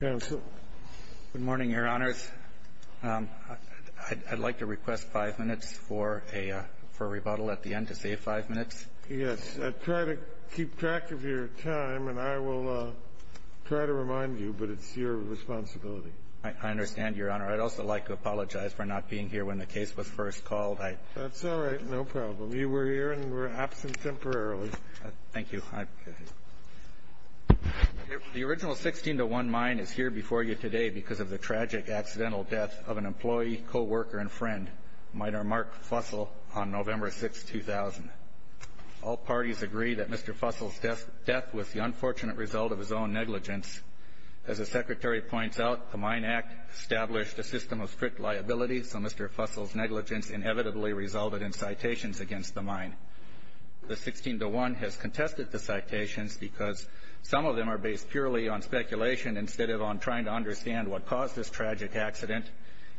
Good morning, Your Honors. I'd like to request five minutes for a rebuttal at the end to save five minutes. Yes. Try to keep track of your time, and I will try to remind you, but it's your responsibility. I understand, Your Honor. I'd also like to apologize for not being here when the case was first called. That's all right. No problem. You were here and were absent temporarily. Thank you. The original 16-1 mine is here before you today because of the tragic accidental death of an employee, co-worker, and friend, Miner Mark Fussell, on November 6, 2000. All parties agree that Mr. Fussell's death was the unfortunate result of his own negligence. As the Secretary points out, the Mine Act established a system of strict liability, so Mr. Fussell's negligence inevitably resulted in citations against the mine. The 16-1 has contested the citations because some of them are based purely on speculation instead of on trying to understand what caused this tragic accident,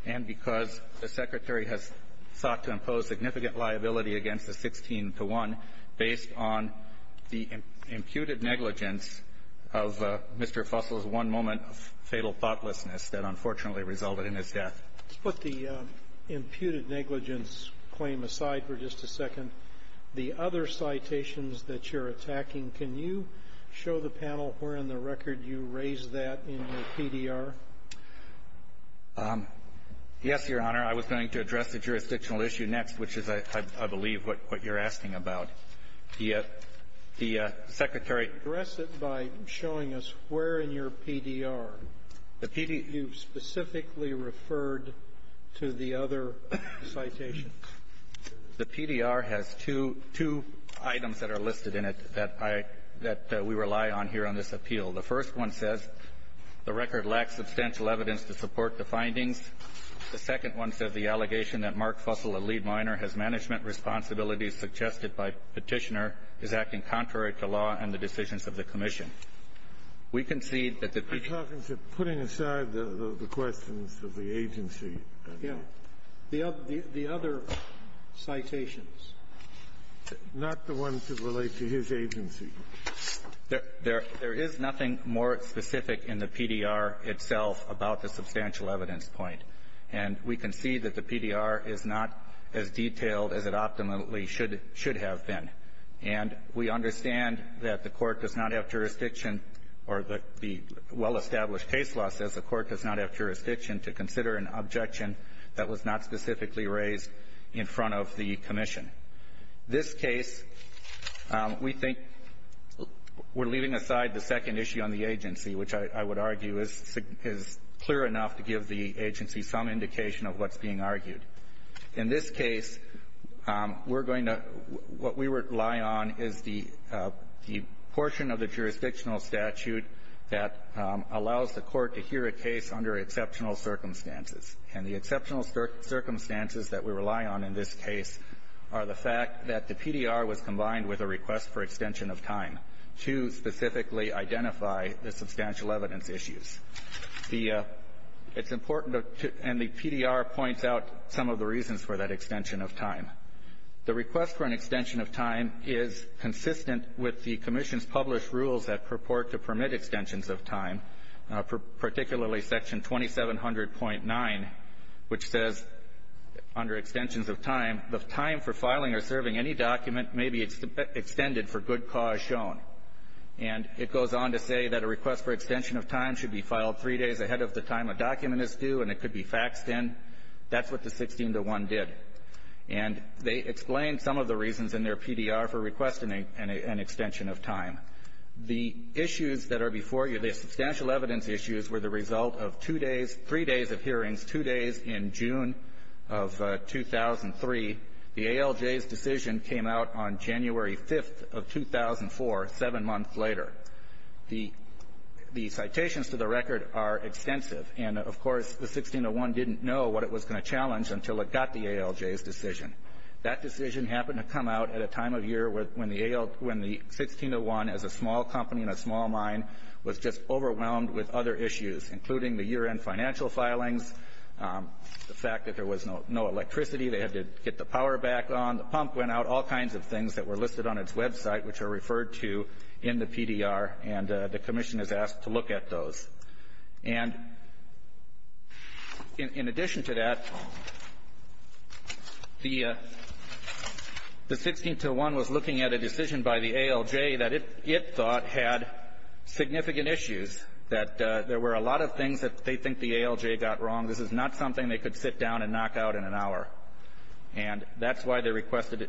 and because the Secretary has sought to impose significant liability against the 16-1 based on the imputed negligence of Mr. Fussell's one moment of fatal thoughtlessness that unfortunately resulted in his death. Let's put the imputed negligence claim aside for just a second. The other citations that you're attacking, can you show the panel where in the record you raised that in your PDR? Yes, Your Honor. I was going to address the jurisdictional issue next, which is, I believe, what you're asking about. The Secretary ---- Address it by showing us where in your PDR. The PDR ---- You specifically referred to the other citations. The PDR has two items that are listed in it that I ---- that we rely on here on this appeal. The first one says the record lacks substantial evidence to support the findings. The second one says the allegation that Mark Fussell, a lead miner, has management responsibilities suggested by Petitioner is acting contrary to law and the decisions of the Commission. We concede that the ---- You're talking to putting aside the questions of the agency. Yes. The other citations. Not the ones that relate to his agency. There is nothing more specific in the PDR itself about the substantial evidence point. And we concede that the PDR is not as detailed as it optimally should have been. And we understand that the Court does not have jurisdiction or the well-established case law says the Court does not have jurisdiction to consider an objection that was not specifically raised in front of the Commission. This case, we think we're leaving aside the second issue on the agency, which I would argue is clear enough to give the agency some indication of what's being argued. In this case, we're going to ---- what we rely on is the portion of the jurisdictional statute that allows the Court to hear a case under exceptional circumstances. And the exceptional circumstances that we rely on in this case are the fact that the PDR was combined with a request for extension of time to specifically identify the substantial evidence issues. The ---- it's important to ---- and the PDR points out some of the reasons for that extension of time is consistent with the Commission's published rules that purport to permit extensions of time, particularly Section 2700.9, which says under extensions of time, the time for filing or serving any document may be extended for good cause shown. And it goes on to say that a request for extension of time should be filed three days ahead of the time a document is due, and it could be faxed in. That's what the 1601 did. And they explain some of the reasons in their PDR for requesting an extension of time. The issues that are before you, the substantial evidence issues, were the result of two days, three days of hearings, two days in June of 2003. The ALJ's decision came out on January 5th of 2004, seven months later. The citations to the record are extensive. And, of course, the 1601 didn't know what it was going to challenge until it got the ALJ's decision. That decision happened to come out at a time of year when the 1601, as a small company in a small mine, was just overwhelmed with other issues, including the year-end financial filings, the fact that there was no electricity, they had to get the power back on, the pump went out, all kinds of things that were listed on its website, which are referred to in the PDR, and the Commission is asked to look at those. And in addition to that, the 1601 was looking at a decision by the ALJ that it thought had significant issues, that there were a lot of things that they think the ALJ got wrong. This is not something they could sit down and knock out in an hour. And that's why they requested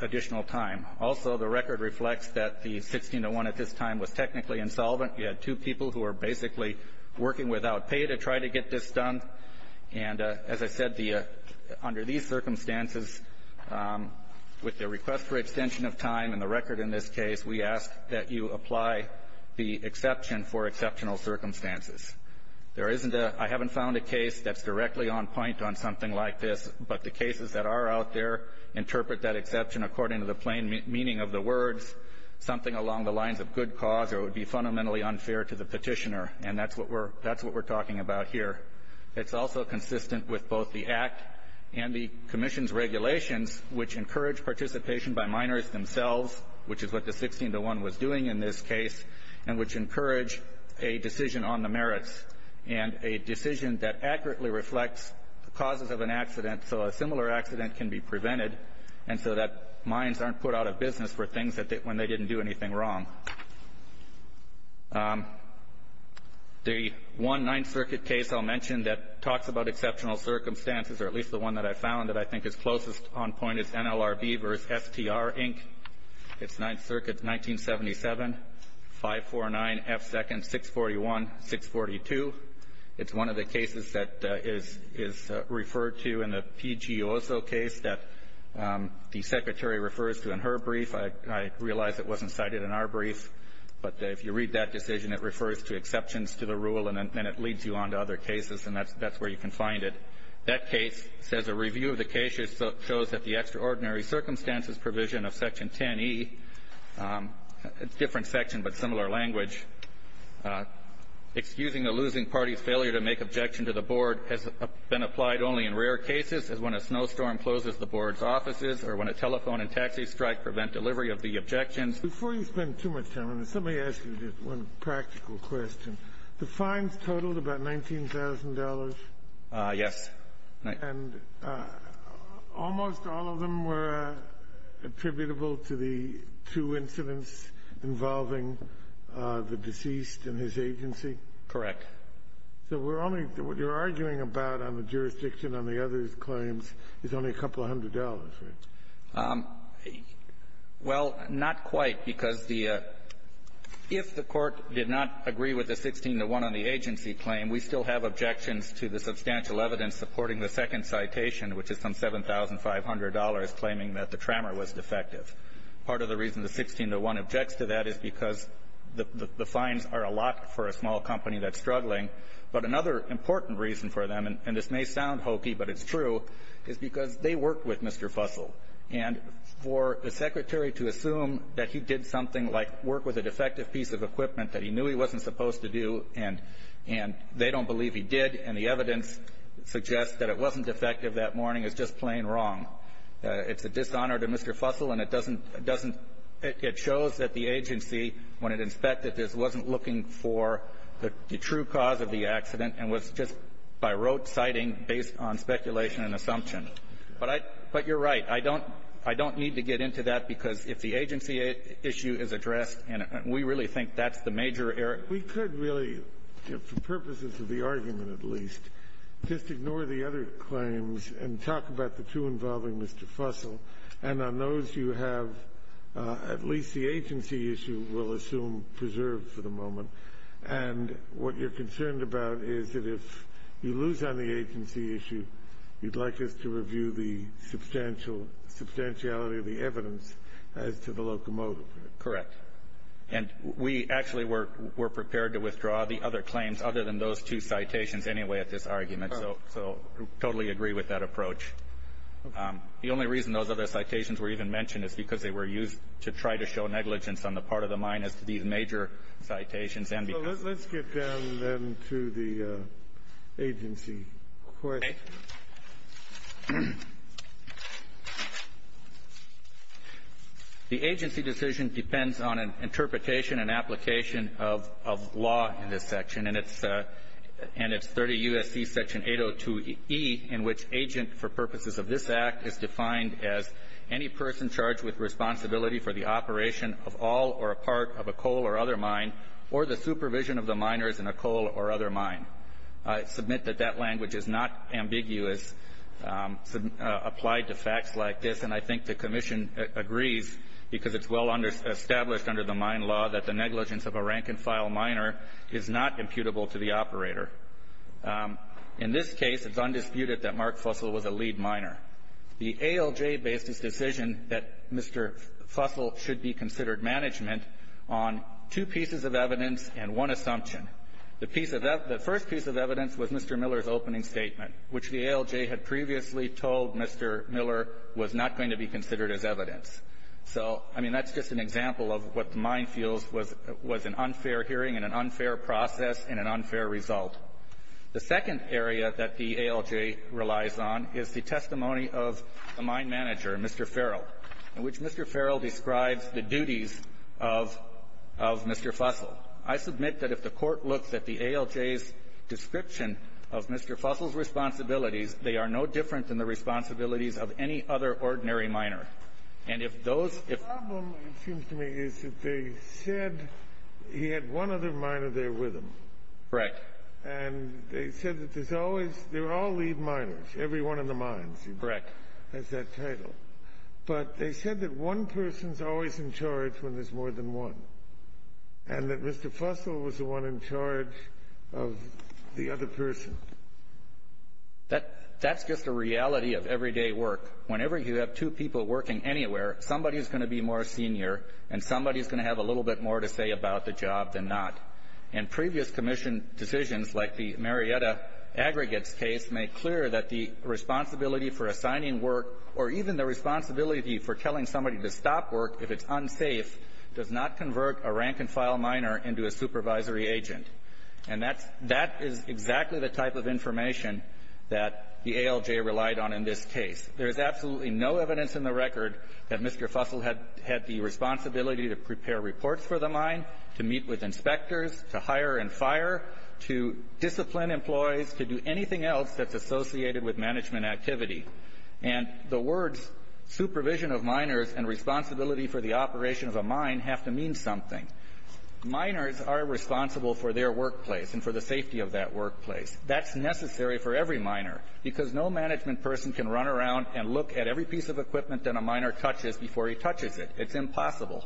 additional time. Also, the record reflects that the 1601 at this time was technically insolvent. You had two people who were basically working without pay to try to get this done. And as I said, under these circumstances, with the request for extension of time and the record in this case, we ask that you apply the exception for exceptional circumstances. I haven't found a case that's directly on point on something like this, but the cases that are out there interpret that exception according to the plain meaning of the words, something along the lines of good cause or would be fundamentally unfair to the petitioner. And that's what we're talking about here. It's also consistent with both the Act and the Commission's regulations, which encourage participation by minors themselves, which is what the 1601 was doing in this case, and which encourage a decision on the merits and a decision that accurately reflects the causes of an accident so a similar accident can be prevented and so that minds aren't put out of business for things when they didn't do anything wrong. The one Ninth Circuit case I'll mention that talks about exceptional circumstances, or at least the one that I found that I think is closest on point, is NLRB v. STR, Inc. It's Ninth Circuit, 1977, 549F2nd 641-642. It's one of the cases that is referred to in the P.G. Oso case that the Secretary refers to in her brief. I realize it wasn't cited in our brief, but if you read that decision, it refers to exceptions to the rule, and then it leads you on to other cases, and that's where you can find it. That case says a review of the case shows that the extraordinary circumstances provision of Section 10E, a different section but similar language, excusing a losing party's failure to make objection to the board has been applied only in rare cases, as when a snowstorm closes the board's offices or when a telephone and taxi strike prevent delivery of the objections. Before you spend too much time on this, let me ask you just one practical question. The fines totaled about $19,000? Yes. And almost all of them were attributable to the two incidents involving the deceased and his agency? Correct. So we're only – what you're arguing about on the jurisdiction on the others' claims is only a couple hundred dollars, right? Well, not quite, because the – if the Court did not agree with the 16 to 1 on the supporting the second citation, which is some $7,500, claiming that the trammer was defective. Part of the reason the 16 to 1 objects to that is because the fines are a lot for a small company that's struggling. But another important reason for them, and this may sound hokey, but it's true, is because they worked with Mr. Fussell. And for the Secretary to assume that he did something like work with a defective piece of equipment that he knew he wasn't supposed to do and they don't believe he did and the evidence suggests that it wasn't defective that morning is just plain wrong. It's a dishonor to Mr. Fussell, and it doesn't – it doesn't – it shows that the agency, when it inspected this, wasn't looking for the true cause of the accident and was just by rote citing based on speculation and assumption. But I – but you're right. I don't – I don't need to get into that because if the agency issue is addressed and we really think that's the major error. But we could really, for purposes of the argument at least, just ignore the other claims and talk about the two involving Mr. Fussell. And on those, you have at least the agency issue, we'll assume preserved for the moment. And what you're concerned about is that if you lose on the agency issue, you'd like us to review the substantial – the substantiality of the evidence as to the locomotive. Correct. And we actually were – were prepared to withdraw the other claims other than those two citations anyway at this argument. So – so totally agree with that approach. Okay. The only reason those other citations were even mentioned is because they were used to try to show negligence on the part of the mine as to these major citations and because – Well, let's get down then to the agency question. Okay. The agency decision depends on an interpretation and application of – of law in this section. And it's – and it's 30 U.S.C. Section 802E in which agent for purposes of this act is defined as any person charged with responsibility for the operation of all or a part of a coal or other mine or the supervision of the miners in a coal or other mine. I submit that that language is not ambiguous applied to facts like this. And I think the commission agrees because it's well established under the mine law that the negligence of a rank-and-file miner is not imputable to the operator. In this case, it's undisputed that Mark Fussell was a lead miner. The ALJ based its decision that Mr. Fussell should be considered management on two pieces of evidence and one assumption. The piece of – the first piece of evidence was Mr. Miller's opening statement, which the ALJ had previously told Mr. Miller was not going to be considered as evidence. So, I mean, that's just an example of what the mine feels was – was an unfair hearing and an unfair process and an unfair result. The second area that the ALJ relies on is the testimony of the mine manager, Mr. Farrell, in which Mr. Farrell describes the duties of – of Mr. Fussell. I submit that if the Court looks at the ALJ's description of Mr. Fussell's responsibilities, they are no different than the responsibilities of any other ordinary miner. And if those – The problem, it seems to me, is that they said he had one other miner there with him. Correct. And they said that there's always – they're all lead miners. Every one of the mines has that title. But they said that one person's always in charge when there's more than one. And that Mr. Fussell was the one in charge of the other person. That – that's just a reality of everyday work. Whenever you have two people working anywhere, somebody's going to be more senior and somebody's going to have a little bit more to say about the job than not. And previous Commission decisions, like the Marietta Aggregates case, make clear that the responsibility for assigning work or even the responsibility for telling somebody to stop work if it's unsafe does not convert a rank-and-file miner into a supervisory agent. And that's – that is exactly the type of information that the ALJ relied on in this case. There is absolutely no evidence in the record that Mr. Fussell had the responsibility to prepare reports for the mine, to meet with inspectors, to hire and fire, to discipline employees, to do anything else that's associated with management activity. And the words supervision of miners and responsibility for the operation of a mine have to mean something. Miners are responsible for their workplace and for the safety of that workplace. That's necessary for every miner, because no management person can run around and look at every piece of equipment that a miner touches before he touches it. It's impossible.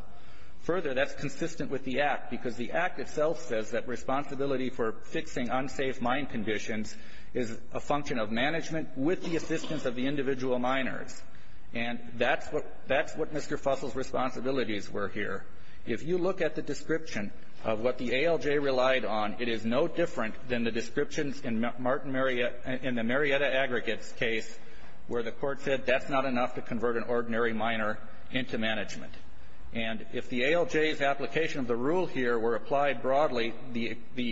Further, that's consistent with the Act, because the Act itself says that responsibility for fixing unsafe mine conditions is a function of management with the assistance of the individual miners. And that's what – that's what Mr. Fussell's responsibilities were here. If you look at the description of what the ALJ relied on, it is no different than the descriptions in Martin Marietta – in the Marietta Aggregates case where the Court said that's not enough to convert an ordinary miner into management. And if the ALJ's application of the rule here were applied broadly, the – the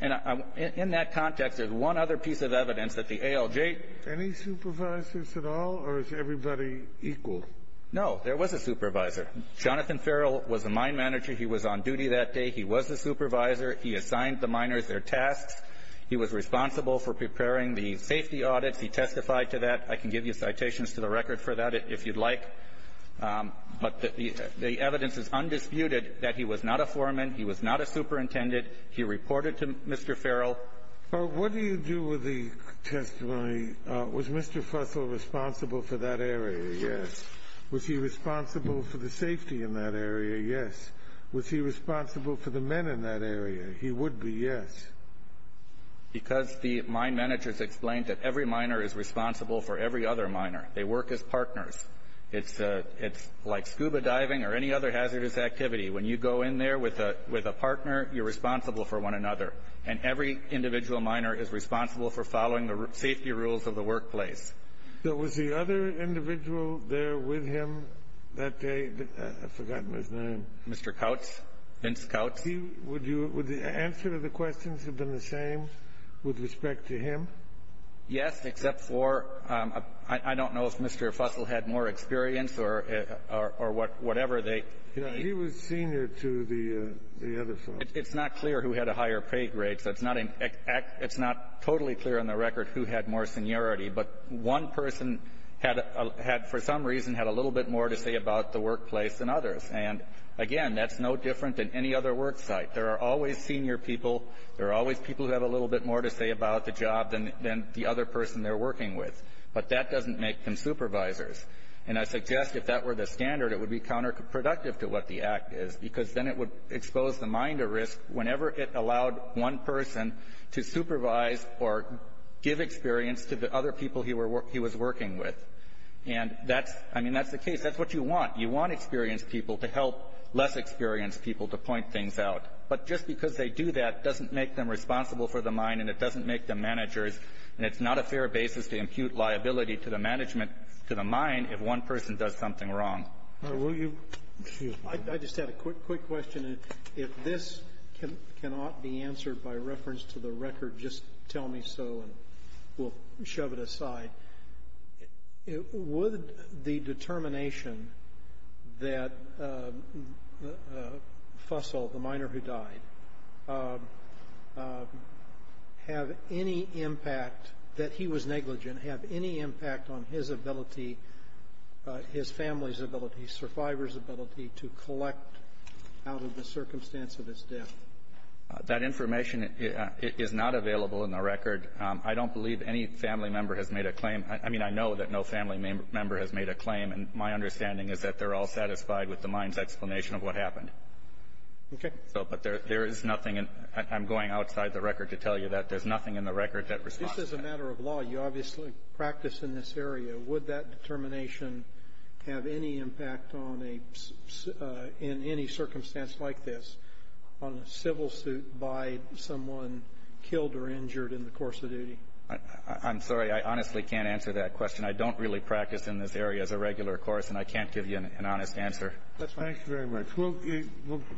And in that context, there's one other piece of evidence that the ALJ – Any supervisors at all, or is everybody equal? No, there was a supervisor. Jonathan Farrell was a mine manager. He was on duty that day. He was the supervisor. He assigned the miners their tasks. He was responsible for preparing the safety audits. He testified to that. I can give you citations to the record for that if you'd like. But the evidence is undisputed that he was not a foreman, he was not a superintendent. He reported to Mr. Farrell. Well, what do you do with the testimony, was Mr. Fussell responsible for that area? Yes. Was he responsible for the safety in that area? Yes. Was he responsible for the men in that area? He would be, yes. Because the mine managers explained that every miner is responsible for every other miner. They work as partners. It's like scuba diving or any other hazardous activity. When you go in there with a partner, you're responsible for one another. And every individual miner is responsible for following the safety rules of the workplace. So was the other individual there with him that day? I've forgotten his name. Mr. Coutts, Vince Coutts. Would the answer to the questions have been the same with respect to him? Yes, except for – I don't know if Mr. Fussell had more experience or whatever they – He was senior to the other folks. It's not clear who had a higher pay grade, so it's not totally clear on the record who had more seniority. But one person had, for some reason, had a little bit more to say about the workplace than others. And, again, that's no different than any other work site. There are always senior people. There are always people who have a little bit more to say about the job than the other person they're working with. But that doesn't make them supervisors. And I suggest if that were the standard, it would be counterproductive to what the Act is, because then it would expose the mine to risk whenever it allowed one person to supervise or give experience to the other people he was working with. And that's – I mean, that's the case. That's what you want. You want experienced people to help less experienced people to point things out. But just because they do that doesn't make them responsible for the mine, and it doesn't make them managers. And it's not a fair basis to impute liability to the management, to the mine, if one person does something wrong. Kennedy. I just had a quick question. If this cannot be answered by reference to the record, just tell me so, and we'll shove it aside. Would the determination that Fussell, the miner who died, have any impact, that he was negligent, have any impact on his ability, his family's ability, survivor's ability to collect out of the circumstance of his death? That information is not available in the record. I don't believe any family member has made a claim. I mean, I know that no family member has made a claim, and my understanding is that they're all satisfied with the mine's explanation of what happened. Okay. But there is nothing. I'm going outside the record to tell you that there's nothing in the record that responds to that. This is a matter of law. You obviously practice in this area. Would that determination have any impact on a – in any circumstance like this, on a civil suit by someone killed or injured in the course of duty? I'm sorry. I honestly can't answer that question. I don't really practice in this area as a regular course, and I can't give you an honest answer. That's fine. Thank you very much. We'll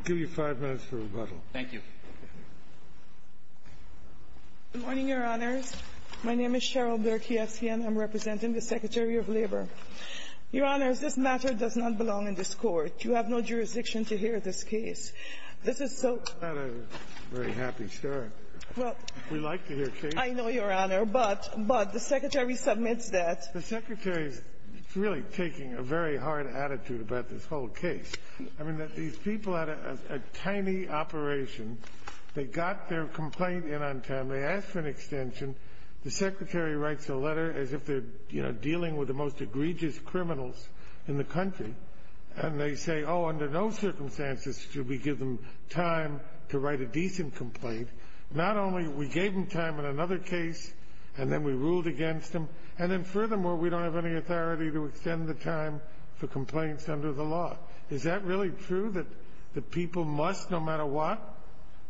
give you five minutes for rebuttal. Thank you. Good morning, Your Honors. My name is Cheryl Berkiewski, and I'm representing the Secretary of Labor. Your Honors, this matter does not belong in this Court. You have no jurisdiction to hear this case. This is so – It's not a very happy story. We like to hear cases. I know, Your Honor. But the Secretary submits that. The Secretary is really taking a very hard attitude about this whole case. I mean, these people had a tiny operation. They got their complaint in on time. They asked for an extension. The Secretary writes a letter as if they're, you know, dealing with the most egregious criminals in the country, and they say, oh, under no circumstances should we give them time to write a decent complaint. Not only we gave them time in another case, and then we ruled against them, and then, furthermore, we don't have any authority to extend the time for complaints under the law. Is that really true, that the people must, no matter what,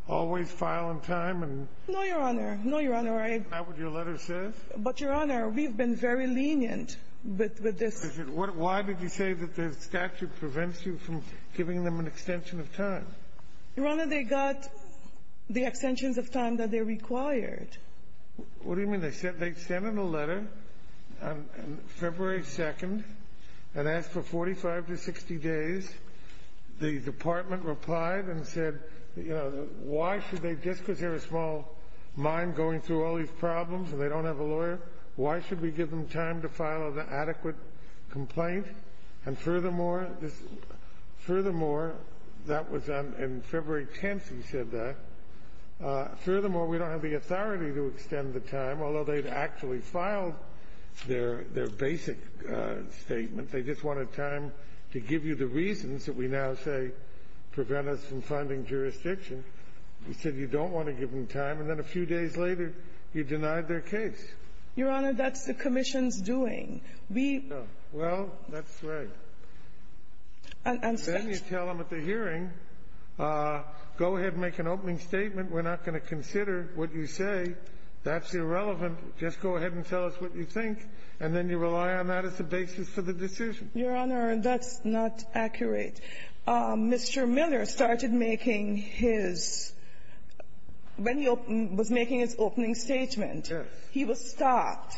always file on time? No, Your Honor. No, Your Honor. Isn't that what your letter says? But, Your Honor, we've been very lenient with this. Why did you say that the statute prevents you from giving them an extension of time? Your Honor, they got the extensions of time that they required. What do you mean? They sent in a letter on February 2nd and asked for 45 to 60 days. The Department replied and said, you know, why should they, just because they're a small mine going through all these problems and they don't have a lawyer, why should we give them time to file an adequate complaint? And, furthermore, that was in February 10th, he said that. Furthermore, we don't have the authority to extend the time, although they'd actually filed their basic statement. They just wanted time to give you the reasons that we now say prevent us from finding jurisdiction. He said you don't want to give them time. And then a few days later, you denied their case. Your Honor, that's the commission's doing. We — Well, that's right. And then you tell them at the hearing, go ahead and make an opening statement. We're not going to consider what you say. That's irrelevant. Just go ahead and tell us what you think, and then you rely on that as the basis for the decision. Your Honor, that's not accurate. Mr. Miller started making his — when he was making his opening statement, he was stopped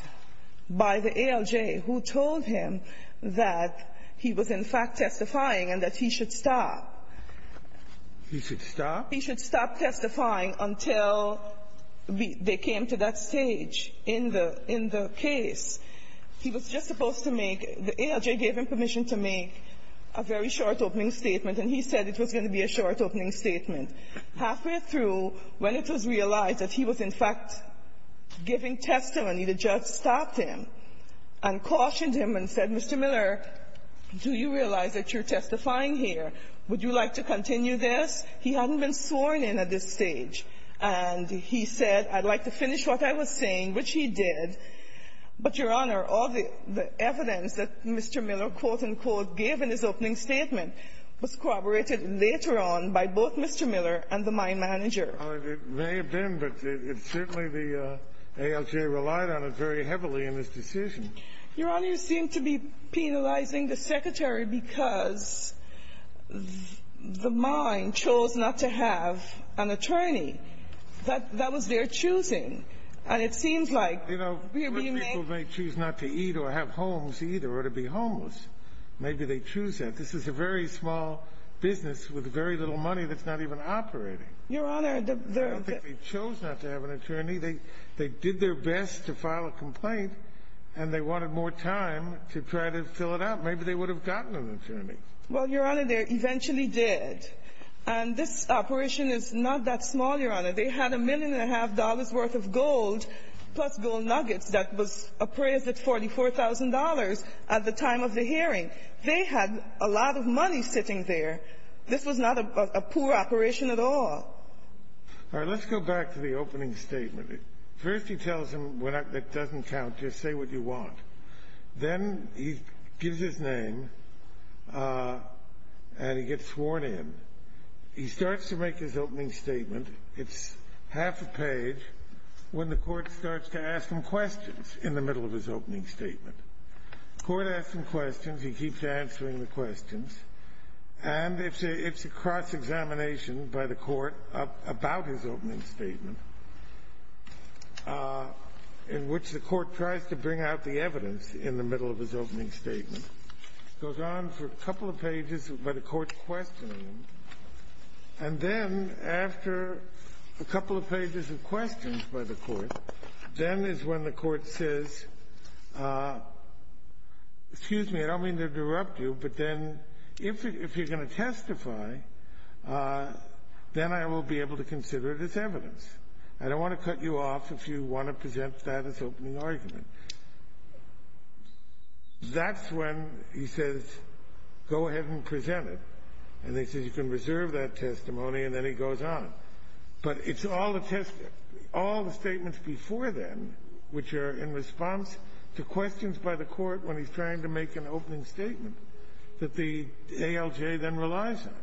by the ALJ, who told him that he was, in fact, testifying and that he should stop. He should stop? He should stop testifying until they came to that stage in the — in the case. He was just supposed to make — the ALJ gave him permission to make a very short opening statement, and he said it was going to be a short opening statement. Halfway through, when it was realized that he was, in fact, giving testimony, the judge stopped him and cautioned him and said, Mr. Miller, do you realize that you're testifying here? Would you like to continue this? He hadn't been sworn in at this stage. And he said, I'd like to finish what I was saying, which he did. But, Your Honor, all the evidence that Mr. Miller, quote, unquote, gave in his opening statement was corroborated later on by both Mr. Miller and the mine manager. It may have been, but certainly the ALJ relied on it very heavily in this decision. Your Honor, you seem to be penalizing the Secretary because the mine chose not to have an attorney. That was their choosing. And it seems like — You know, people may choose not to eat or have homes either or to be homeless. Maybe they choose that. This is a very small business with very little money that's not even operating. Your Honor, the — I don't think they chose not to have an attorney. They did their best to file a complaint, and they wanted more time to try to fill it out. Maybe they would have gotten an attorney. Well, Your Honor, they eventually did. And this operation is not that small, Your Honor. They had a million and a half dollars' worth of gold, plus gold nuggets, that was appraised at $44,000 at the time of the hearing. They had a lot of money sitting there. This was not a poor operation at all. All right. Let's go back to the opening statement. First he tells him, that doesn't count, just say what you want. Then he gives his name, and he gets sworn in. He starts to make his opening statement. It's half a page when the court starts to ask him questions in the middle of his opening statement. The court asks him questions. He keeps answering the questions. And it's a cross-examination by the court about his opening statement, in which the evidence in the middle of his opening statement goes on for a couple of pages by the court questioning him. And then after a couple of pages of questions by the court, then is when the court says, excuse me, I don't mean to interrupt you, but then if you're going to testify, then I will be able to consider it as evidence. I don't want to cut you off if you want to present that as opening argument. That's when he says, go ahead and present it. And he says, you can reserve that testimony, and then he goes on. But it's all the statements before then, which are in response to questions by the court when he's trying to make an opening statement, that the ALJ then relies on.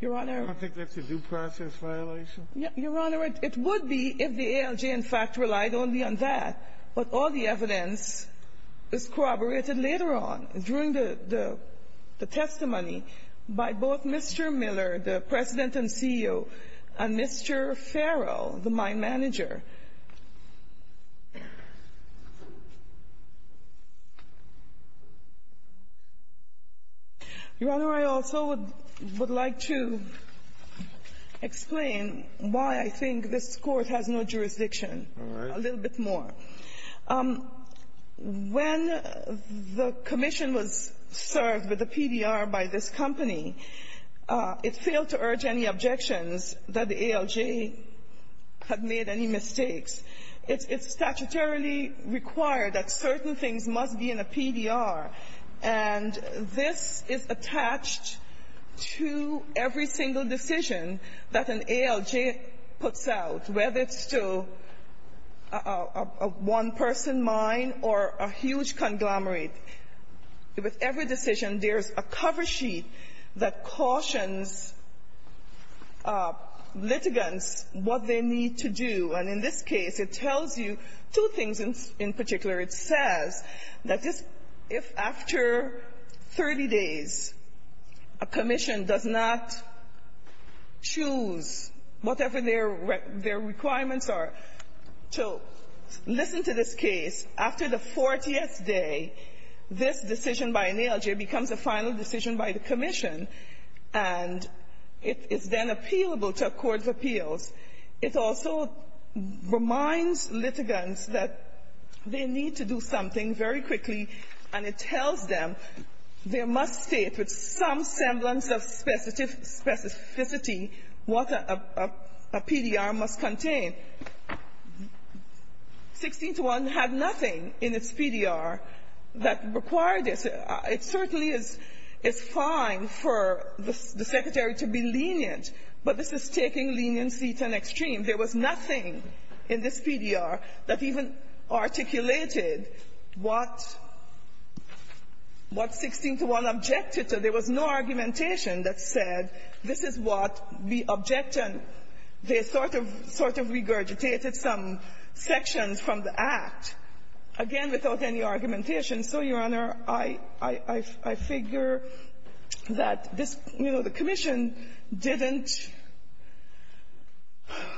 Your Honor. Don't you think that's a due process violation? Your Honor, it would be if the ALJ, in fact, relied only on that. But all the evidence is corroborated later on during the testimony by both Mr. Miller, the President and CEO, and Mr. Farrell, the mine manager. Your Honor, I also would like to explain why I think this Court has no jurisdiction a little bit more. When the commission was served with the PDR by this company, it failed to urge any objections that the ALJ had made any mistakes. It's statutorily required that certain things must be in a PDR. And this is attached to every single decision that an ALJ puts out, whether it's a one-person mine or a huge conglomerate. With every decision, there's a cover sheet that cautions litigants what they need to do. And in this case, it tells you two things in particular. It says that if, after 30 days, a commission does not choose whatever their requirements are. So listen to this case. After the 40th day, this decision by an ALJ becomes a final decision by the commission. And it's then appealable to a court of appeals. It also reminds litigants that they need to do something very quickly, and it tells them there must state with some semblance of specificity what a PDR must contain. 1621 had nothing in its PDR that required this. It certainly is fine for the secretary to be lenient, but this is taking leniency to an extreme. There was nothing in this PDR that even articulated what 1621 objected to. There was no argumentation that said this is what we object, and they sort of regurgitated some sections from the Act, again, without any argumentation. And so, Your Honor, I figure that this, you know, the commission didn't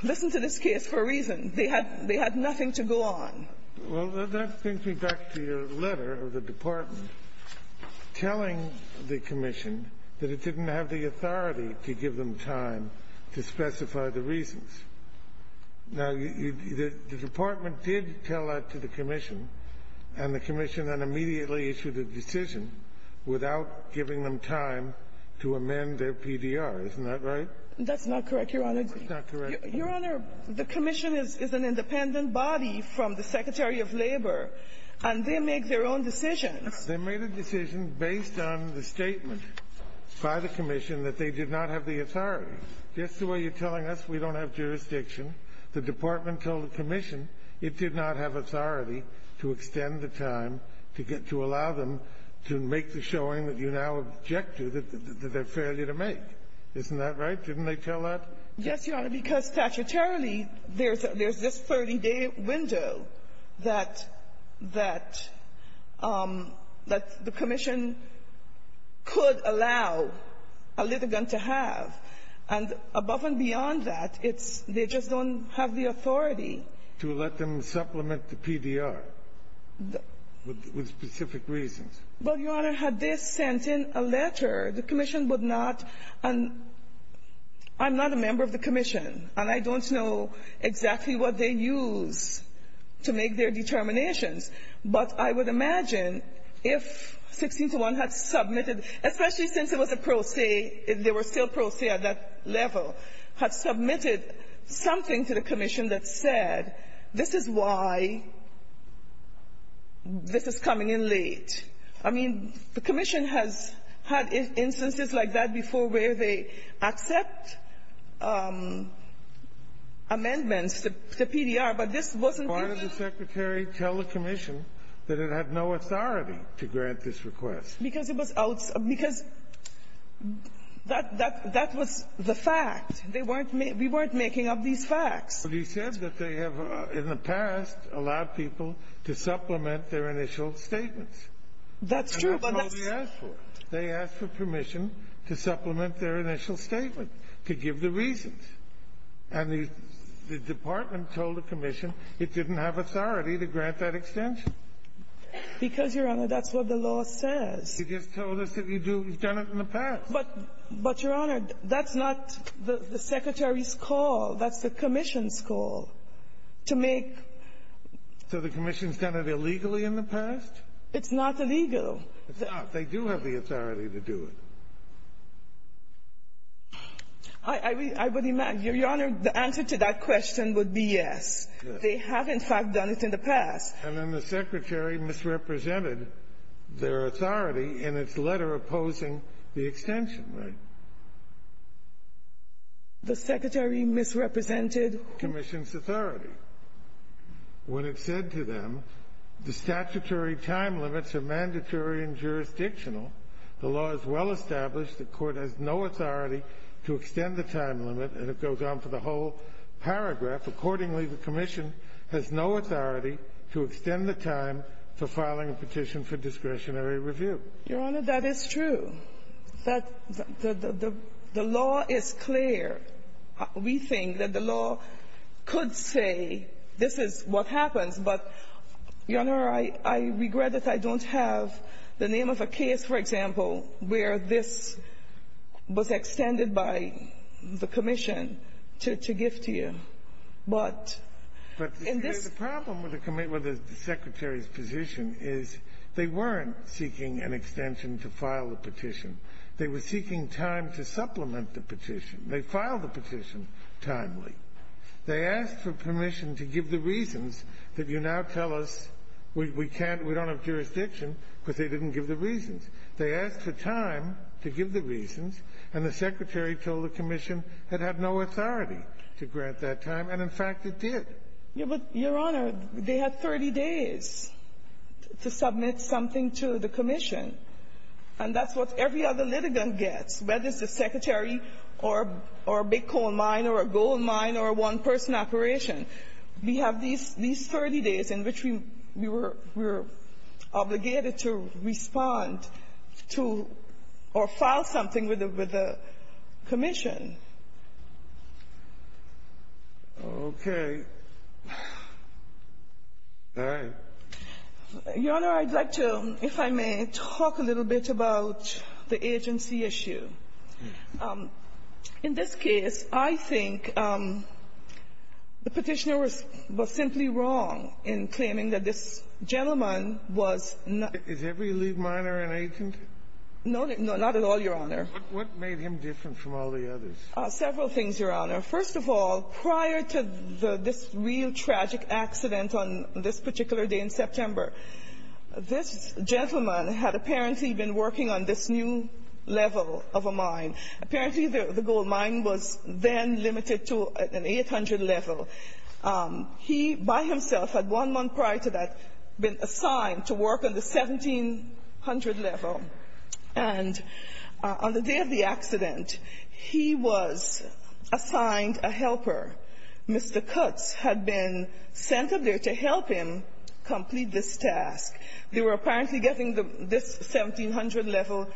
listen to this case for a reason. They had nothing to go on. Well, that brings me back to your letter of the Department telling the commission that it didn't have the authority to give them time to specify the reasons. Now, the Department did tell that to the commission, and the commission then immediately issued a decision without giving them time to amend their PDR. Isn't that right? That's not correct, Your Honor. It's not correct. Your Honor, the commission is an independent body from the Secretary of Labor, and they make their own decisions. They made a decision based on the statement by the commission that they did not have the authority. Just the way you're telling us, we don't have jurisdiction. The department told the commission it did not have authority to extend the time to get to allow them to make the showing that you now object to, that they're failure to make. Isn't that right? Didn't they tell that? Yes, Your Honor, because statutorily, there's this 30-day window that the commission could allow a litigant to have. And above and beyond that, it's they just don't have the authority. To let them supplement the PDR with specific reasons. Well, Your Honor, had this sent in a letter, the commission would not, and I'm not a member of the commission, and I don't know exactly what they use to make their Especially since it was a pro se. They were still pro se at that level. Had submitted something to the commission that said, this is why this is coming in late. I mean, the commission has had instances like that before where they accept amendments to PDR, but this wasn't the case. Why did the secretary tell the commission that it had no authority to grant this extension? Because that was the fact. We weren't making up these facts. But he said that they have, in the past, allowed people to supplement their initial statements. That's true. And that's all they asked for. They asked for permission to supplement their initial statement, to give the reasons. And the department told the commission it didn't have authority to grant that extension. Because, Your Honor, that's what the law says. You just told us that you've done it in the past. But, Your Honor, that's not the secretary's call. That's the commission's call to make So the commission's done it illegally in the past? It's not illegal. It's not. They do have the authority to do it. I would imagine, Your Honor, the answer to that question would be yes. Yes. They have, in fact, done it in the past. And then the secretary misrepresented their authority in its letter opposing the extension, right? The secretary misrepresented the commission's authority when it said to them, the statutory time limits are mandatory and jurisdictional. The law is well established. The court has no authority to extend the time limit. And it goes on for the whole paragraph. Accordingly, the commission has no authority to extend the time for filing a petition for discretionary review. Your Honor, that is true. The law is clear. We think that the law could say this is what happens. But, Your Honor, I regret that I don't have the name of a case, for example, where this was extended by the commission to give to you. But in this ---- But the problem with the secretary's position is they weren't seeking an extension to file a petition. They were seeking time to supplement the petition. They filed the petition timely. They asked for permission to give the reasons that you now tell us we can't, we don't have jurisdiction because they didn't give the reasons. They asked for time to give the reasons, and the secretary told the commission it had no authority to grant that time, and, in fact, it did. Yes, but, Your Honor, they had 30 days to submit something to the commission. And that's what every other litigant gets, whether it's the secretary or a big coal mine or a gold mine or a one-person operation. We have these 30 days in which we were obligated to respond to or file something with the commission. Okay. All right. Your Honor, I'd like to, if I may, talk a little bit about the agency issue. In this case, I think the Petitioner was simply wrong in claiming that this gentleman was not — Is every lead miner an agent? No, not at all, Your Honor. What made him different from all the others? Several things, Your Honor. First of all, prior to this real tragic accident on this particular day in September, this gentleman had apparently been working on this new level of a mine. Apparently, the gold mine was then limited to an 800 level. He, by himself, had one month prior to that been assigned to work on the 1700 level. And on the day of the accident, he was assigned a helper. Mr. Cutts had been sent up there to help him complete this task. They were apparently getting this 1700 level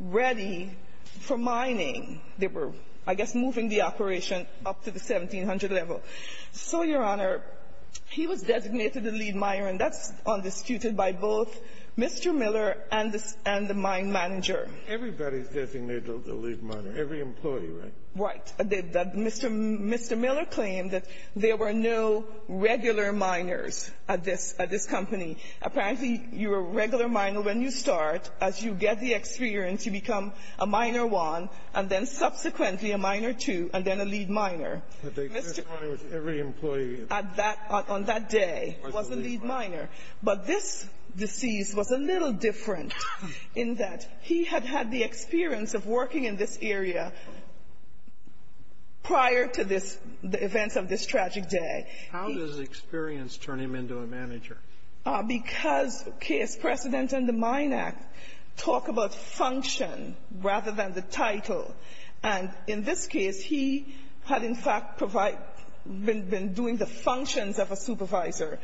ready for mining. They were, I guess, moving the operation up to the 1700 level. So, Your Honor, he was designated a lead miner, and that's undisputed by both Mr. Miller and the mine manager. Everybody's designated a lead miner. Every employee, right? Right. Mr. Miller claimed that there were no regular miners at this company. Apparently, you're a regular miner when you start. As you get the experience, you become a miner one, and then subsequently a miner two, and then a lead miner. Every employee. On that day was a lead miner. But this deceased was a little different in that he had had the experience of working in this area prior to this, the events of this tragic day. How does experience turn him into a manager? Because case precedent and the Mine Act talk about function rather than the title. And in this case, he had, in fact, been doing the functions of a supervisor.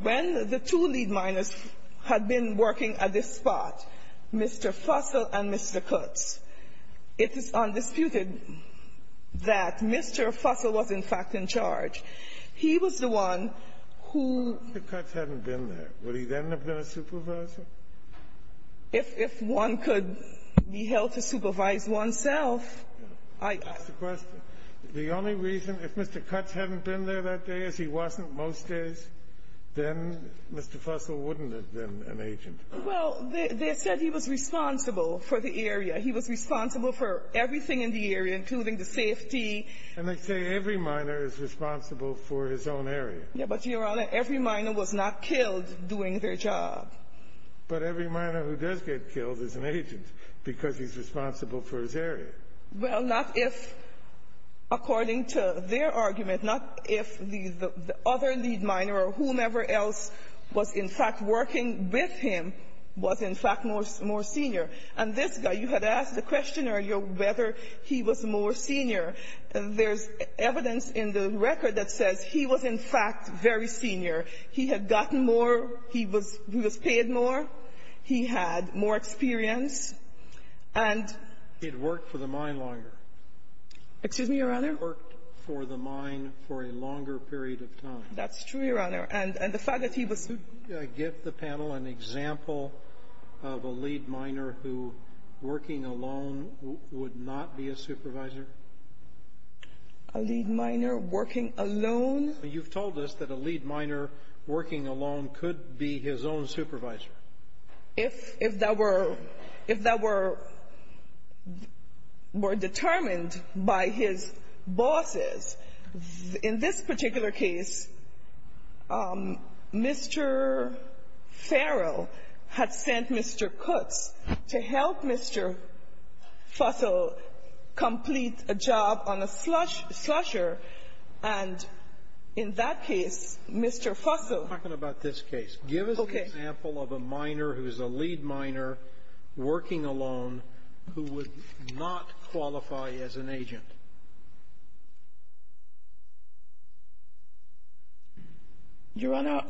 When the two lead miners had been working at this spot, Mr. Fussell and Mr. Cutts, it is undisputed that Mr. Fussell was, in fact, in charge. He was the one who ---- If Mr. Cutts hadn't been there, would he then have been a supervisor? If one could be held to supervise oneself, I ---- That's the question. The only reason, if Mr. Cutts hadn't been there that day, as he wasn't most days, then Mr. Fussell wouldn't have been an agent. Well, they said he was responsible for the area. He was responsible for everything in the area, including the safety. And they say every miner is responsible for his own area. But, Your Honor, every miner was not killed doing their job. But every miner who does get killed is an agent because he's responsible for his area. Well, not if, according to their argument, not if the other lead miner or whomever else was, in fact, working with him, was, in fact, more senior. And this guy, you had asked the question earlier whether he was more senior. There's evidence in the record that says he was, in fact, very senior. He had gotten more. He was paid more. He had more experience. It worked for the mine longer. Excuse me, Your Honor? It worked for the mine for a longer period of time. That's true, Your Honor. And the fact that he was who? Could you give the panel an example of a lead miner who, working alone, would not be a supervisor? A lead miner working alone? You've told us that a lead miner working alone could be his own supervisor. If that were determined by his bosses, in this particular case, Mr. Farrell had sent Mr. Kutz to help Mr. Fussell complete a job on a slusher, and in that case, Mr. Fussell We're talking about this case. Give us an example of a miner who is a lead miner working alone who would not qualify as an agent. Your Honor,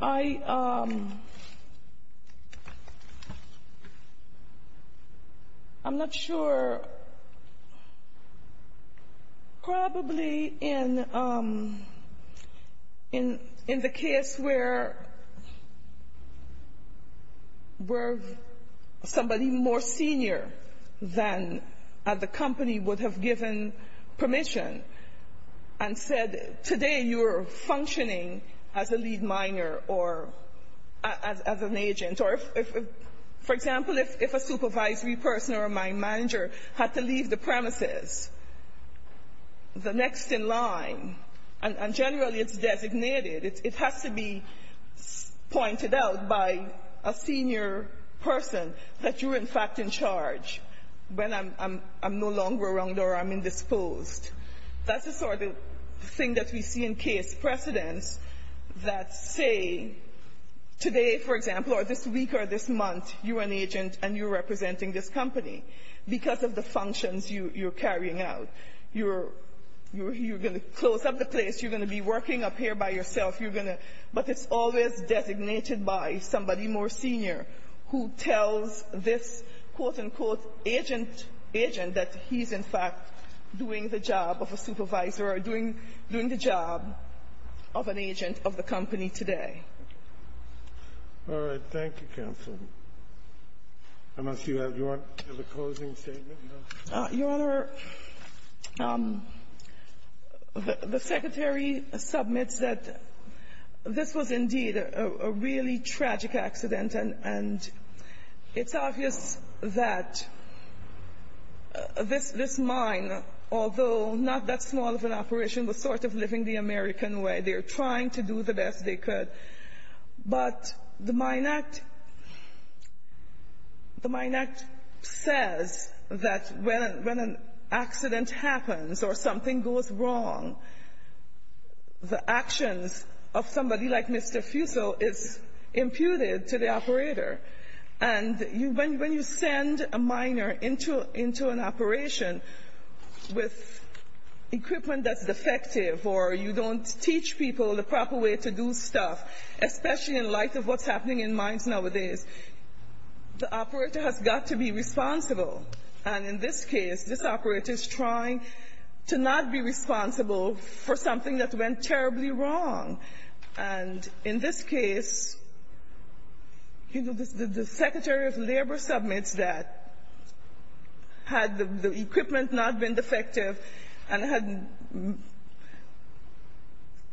I'm not sure. Probably in the case where somebody more senior than the company would have given permission and said, today you are functioning as a lead miner or as an agent. For example, if a supervisory person or a mine manager had to leave the premises, the next in line, and generally it's designated, it has to be pointed out by a senior person that you're in fact in charge, when I'm no longer around or I'm indisposed. That's the sort of thing that we see in case precedents that say, today, for example, or this week or this month, you're an agent and you're representing this company because of the functions you're carrying out. You're going to close up the place. You're going to be working up here by yourself. But it's always designated by somebody more senior who tells this, quote-unquote, agent that he's in fact doing the job of a supervisor or doing the job of an agent of the company today. All right. Thank you, counsel. I'm going to see if you have a closing statement. Your Honor, the Secretary submits that this was indeed a really tragic accident, and it's obvious that this mine, although not that small of an operation, was sort of living the American way. They were trying to do the best they could. But the Mine Act says that when an accident happens or something goes wrong, the actions of somebody like Mr. Fusil is imputed to the operator. And when you send a miner into an operation with equipment that's defective or you don't teach people the proper way to do stuff, especially in light of what's happening in mines nowadays, the operator has got to be responsible. And in this case, this operator is trying to not be responsible for something that went terribly wrong. And in this case, you know, the Secretary of Labor submits that had the equipment not been defective and had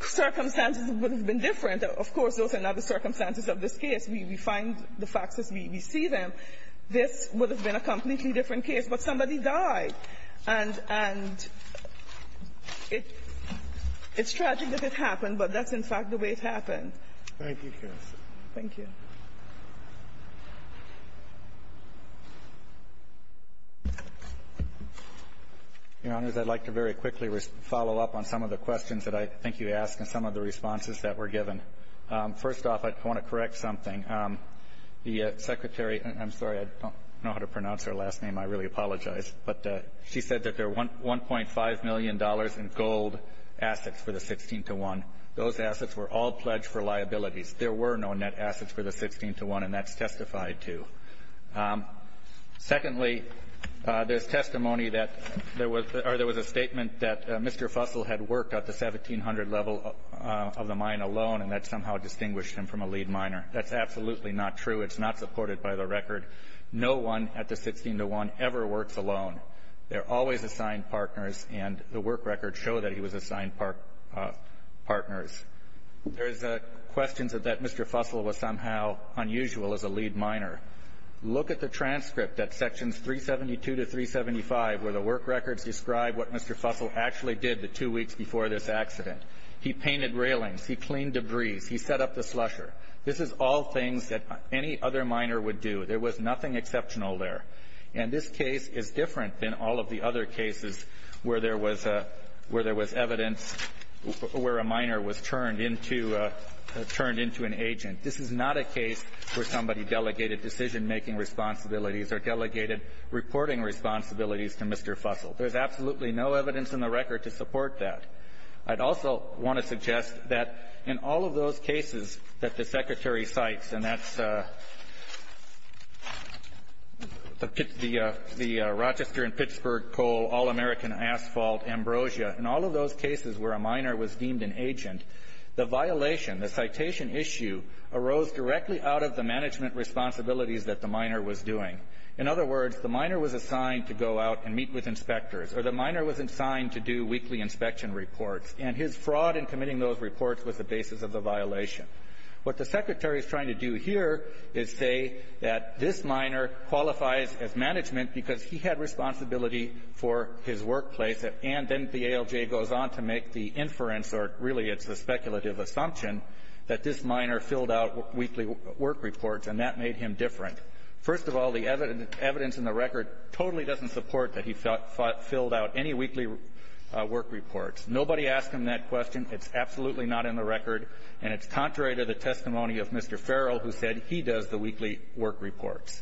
circumstances that would have been different. Of course, those are not the circumstances of this case. We find the facts as we see them. This would have been a completely different case. But somebody died. And it's tragic that it happened, but that's, in fact, the way it happened. Thank you, Counsel. Thank you. Your Honors, I'd like to very quickly follow up on some of the questions that I think you asked and some of the responses that were given. First off, I want to correct something. The Secretary – I'm sorry. I don't know how to pronounce her last name. I really apologize. But she said that there are $1.5 million in gold assets for the 16-to-1. Those assets were all pledged for liabilities. There were no net assets for the 16-to-1, and that's testified to. Secondly, there's testimony that there was – or there was a statement that Mr. Fussell had worked at the 1700 level of the mine alone, and that somehow distinguished him from a lead miner. That's absolutely not true. It's not supported by the record. No one at the 16-to-1 ever works alone. They're always assigned partners, and the work records show that he was assigned partners. There's questions that Mr. Fussell was somehow unusual as a lead miner. Look at the transcript at sections 372 to 375, where the work records describe what Mr. Fussell actually did the two weeks before this accident. He painted railings. He cleaned debris. He set up the slusher. This is all things that any other miner would do. There was nothing exceptional there. And this case is different than all of the other cases where there was evidence where a miner was turned into an agent. This is not a case where somebody delegated decision-making responsibilities or delegated reporting responsibilities to Mr. Fussell. There's absolutely no evidence in the record to support that. I'd also want to suggest that in all of those cases that the Secretary cites, and that's the Rochester and Pittsburgh Coal, All-American Asphalt, Ambrosia, in all of those cases where a miner was deemed an agent, the violation, the citation issue, arose directly out of the management responsibilities that the miner was doing. In other words, the miner was assigned to go out and meet with inspectors, or the miner was assigned to do weekly inspection reports. And his fraud in committing those reports was the basis of the violation. What the Secretary is trying to do here is say that this miner qualifies as management because he had responsibility for his workplace. And then the ALJ goes on to make the inference, or really it's the speculative assumption, that this miner filled out weekly work reports, and that made him different. First of all, the evidence in the record totally doesn't support that he filled out any weekly work reports. Nobody asked him that question. It's absolutely not in the record, and it's contrary to the testimony of Mr. Farrell, who said he does the weekly work reports.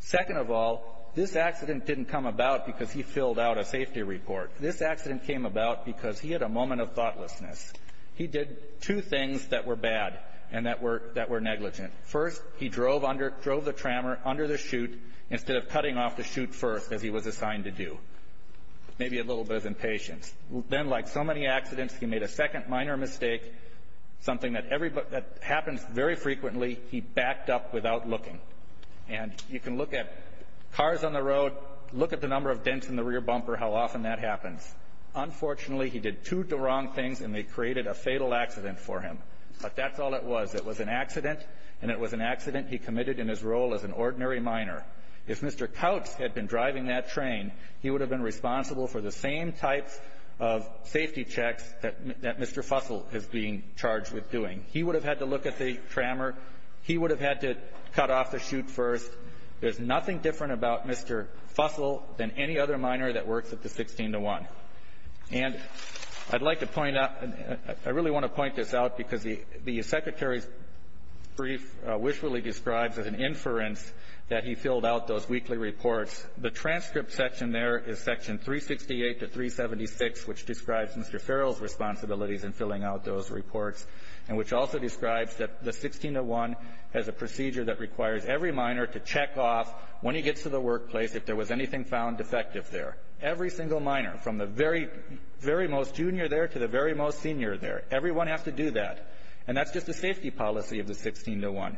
Second of all, this accident didn't come about because he filled out a safety report. This accident came about because he had a moment of thoughtlessness. He did two things that were bad and that were negligent. First, he drove the trammer under the chute instead of cutting off the chute first, as he was assigned to do. Maybe a little bit of impatience. Then, like so many accidents, he made a second minor mistake, something that happens very frequently. He backed up without looking. And you can look at cars on the road, look at the number of dents in the rear bumper, how often that happens. Unfortunately, he did two wrong things, and they created a fatal accident for him. But that's all it was. It was an accident, and it was an accident he committed in his role as an ordinary minor. If Mr. Coutts had been driving that train, he would have been responsible for the same types of safety checks that Mr. Fussell is being charged with doing. He would have had to look at the trammer. He would have had to cut off the chute first. There's nothing different about Mr. Fussell than any other minor that works at the 16 to 1. And I'd like to point out, I really want to point this out, because the secretary's brief wishfully describes as an inference that he filled out those weekly reports. The transcript section there is Section 368 to 376, which describes Mr. Farrell's responsibilities in filling out those reports, and which also describes that the 16 to 1 has a procedure that requires every minor to check off, when he gets to the workplace, if there was anything found defective there. Every single minor, from the very, very most junior there to the very most senior there, everyone has to do that. And that's just the safety policy of the 16 to 1.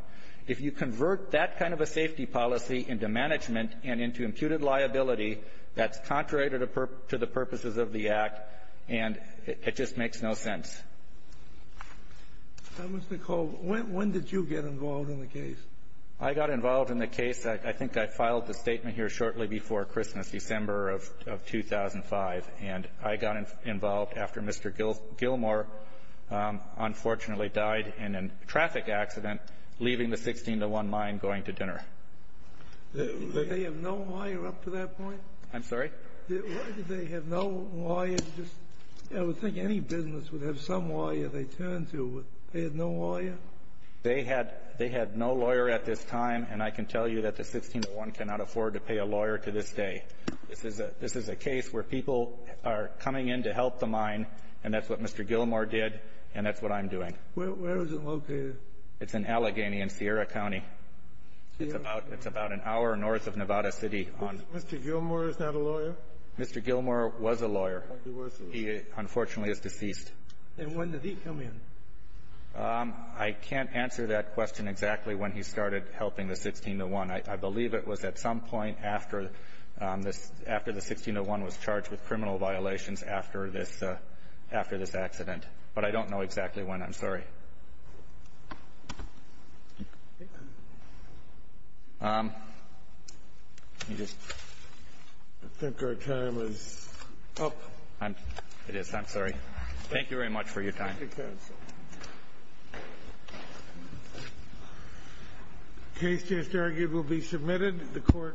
If you convert that kind of a safety policy into management and into imputed liability, that's contrary to the purposes of the Act, and it just makes no sense. Now, Mr. Cole, when did you get involved in the case? I got involved in the case. I think I filed the statement here shortly before Christmas, December of 2005, and I got involved after Mr. Gilmore unfortunately died in a traffic accident, leaving the 16 to 1 mine going to dinner. Did they have no lawyer up to that point? I'm sorry? Did they have no lawyer? I would think any business would have some lawyer they turned to, but they had no lawyer? They had no lawyer at this time, and I can tell you that the 16 to 1 cannot afford to pay a lawyer to this day. This is a case where people are coming in to help the mine, and that's what Mr. Gilmore did, and that's what I'm doing. Where is it located? It's in Allegheny in Sierra County. It's about an hour north of Nevada City. Mr. Gilmore is not a lawyer? Mr. Gilmore was a lawyer. He unfortunately is deceased. And when did he come in? I can't answer that question exactly when he started helping the 16 to 1. I believe it was at some point after the 16 to 1 was charged with criminal violations after this accident. But I don't know exactly when. I'm sorry. I think our time is up. It is. I'm sorry. Thank you very much for your time. Thank you, counsel. Case just argued will be submitted to the court.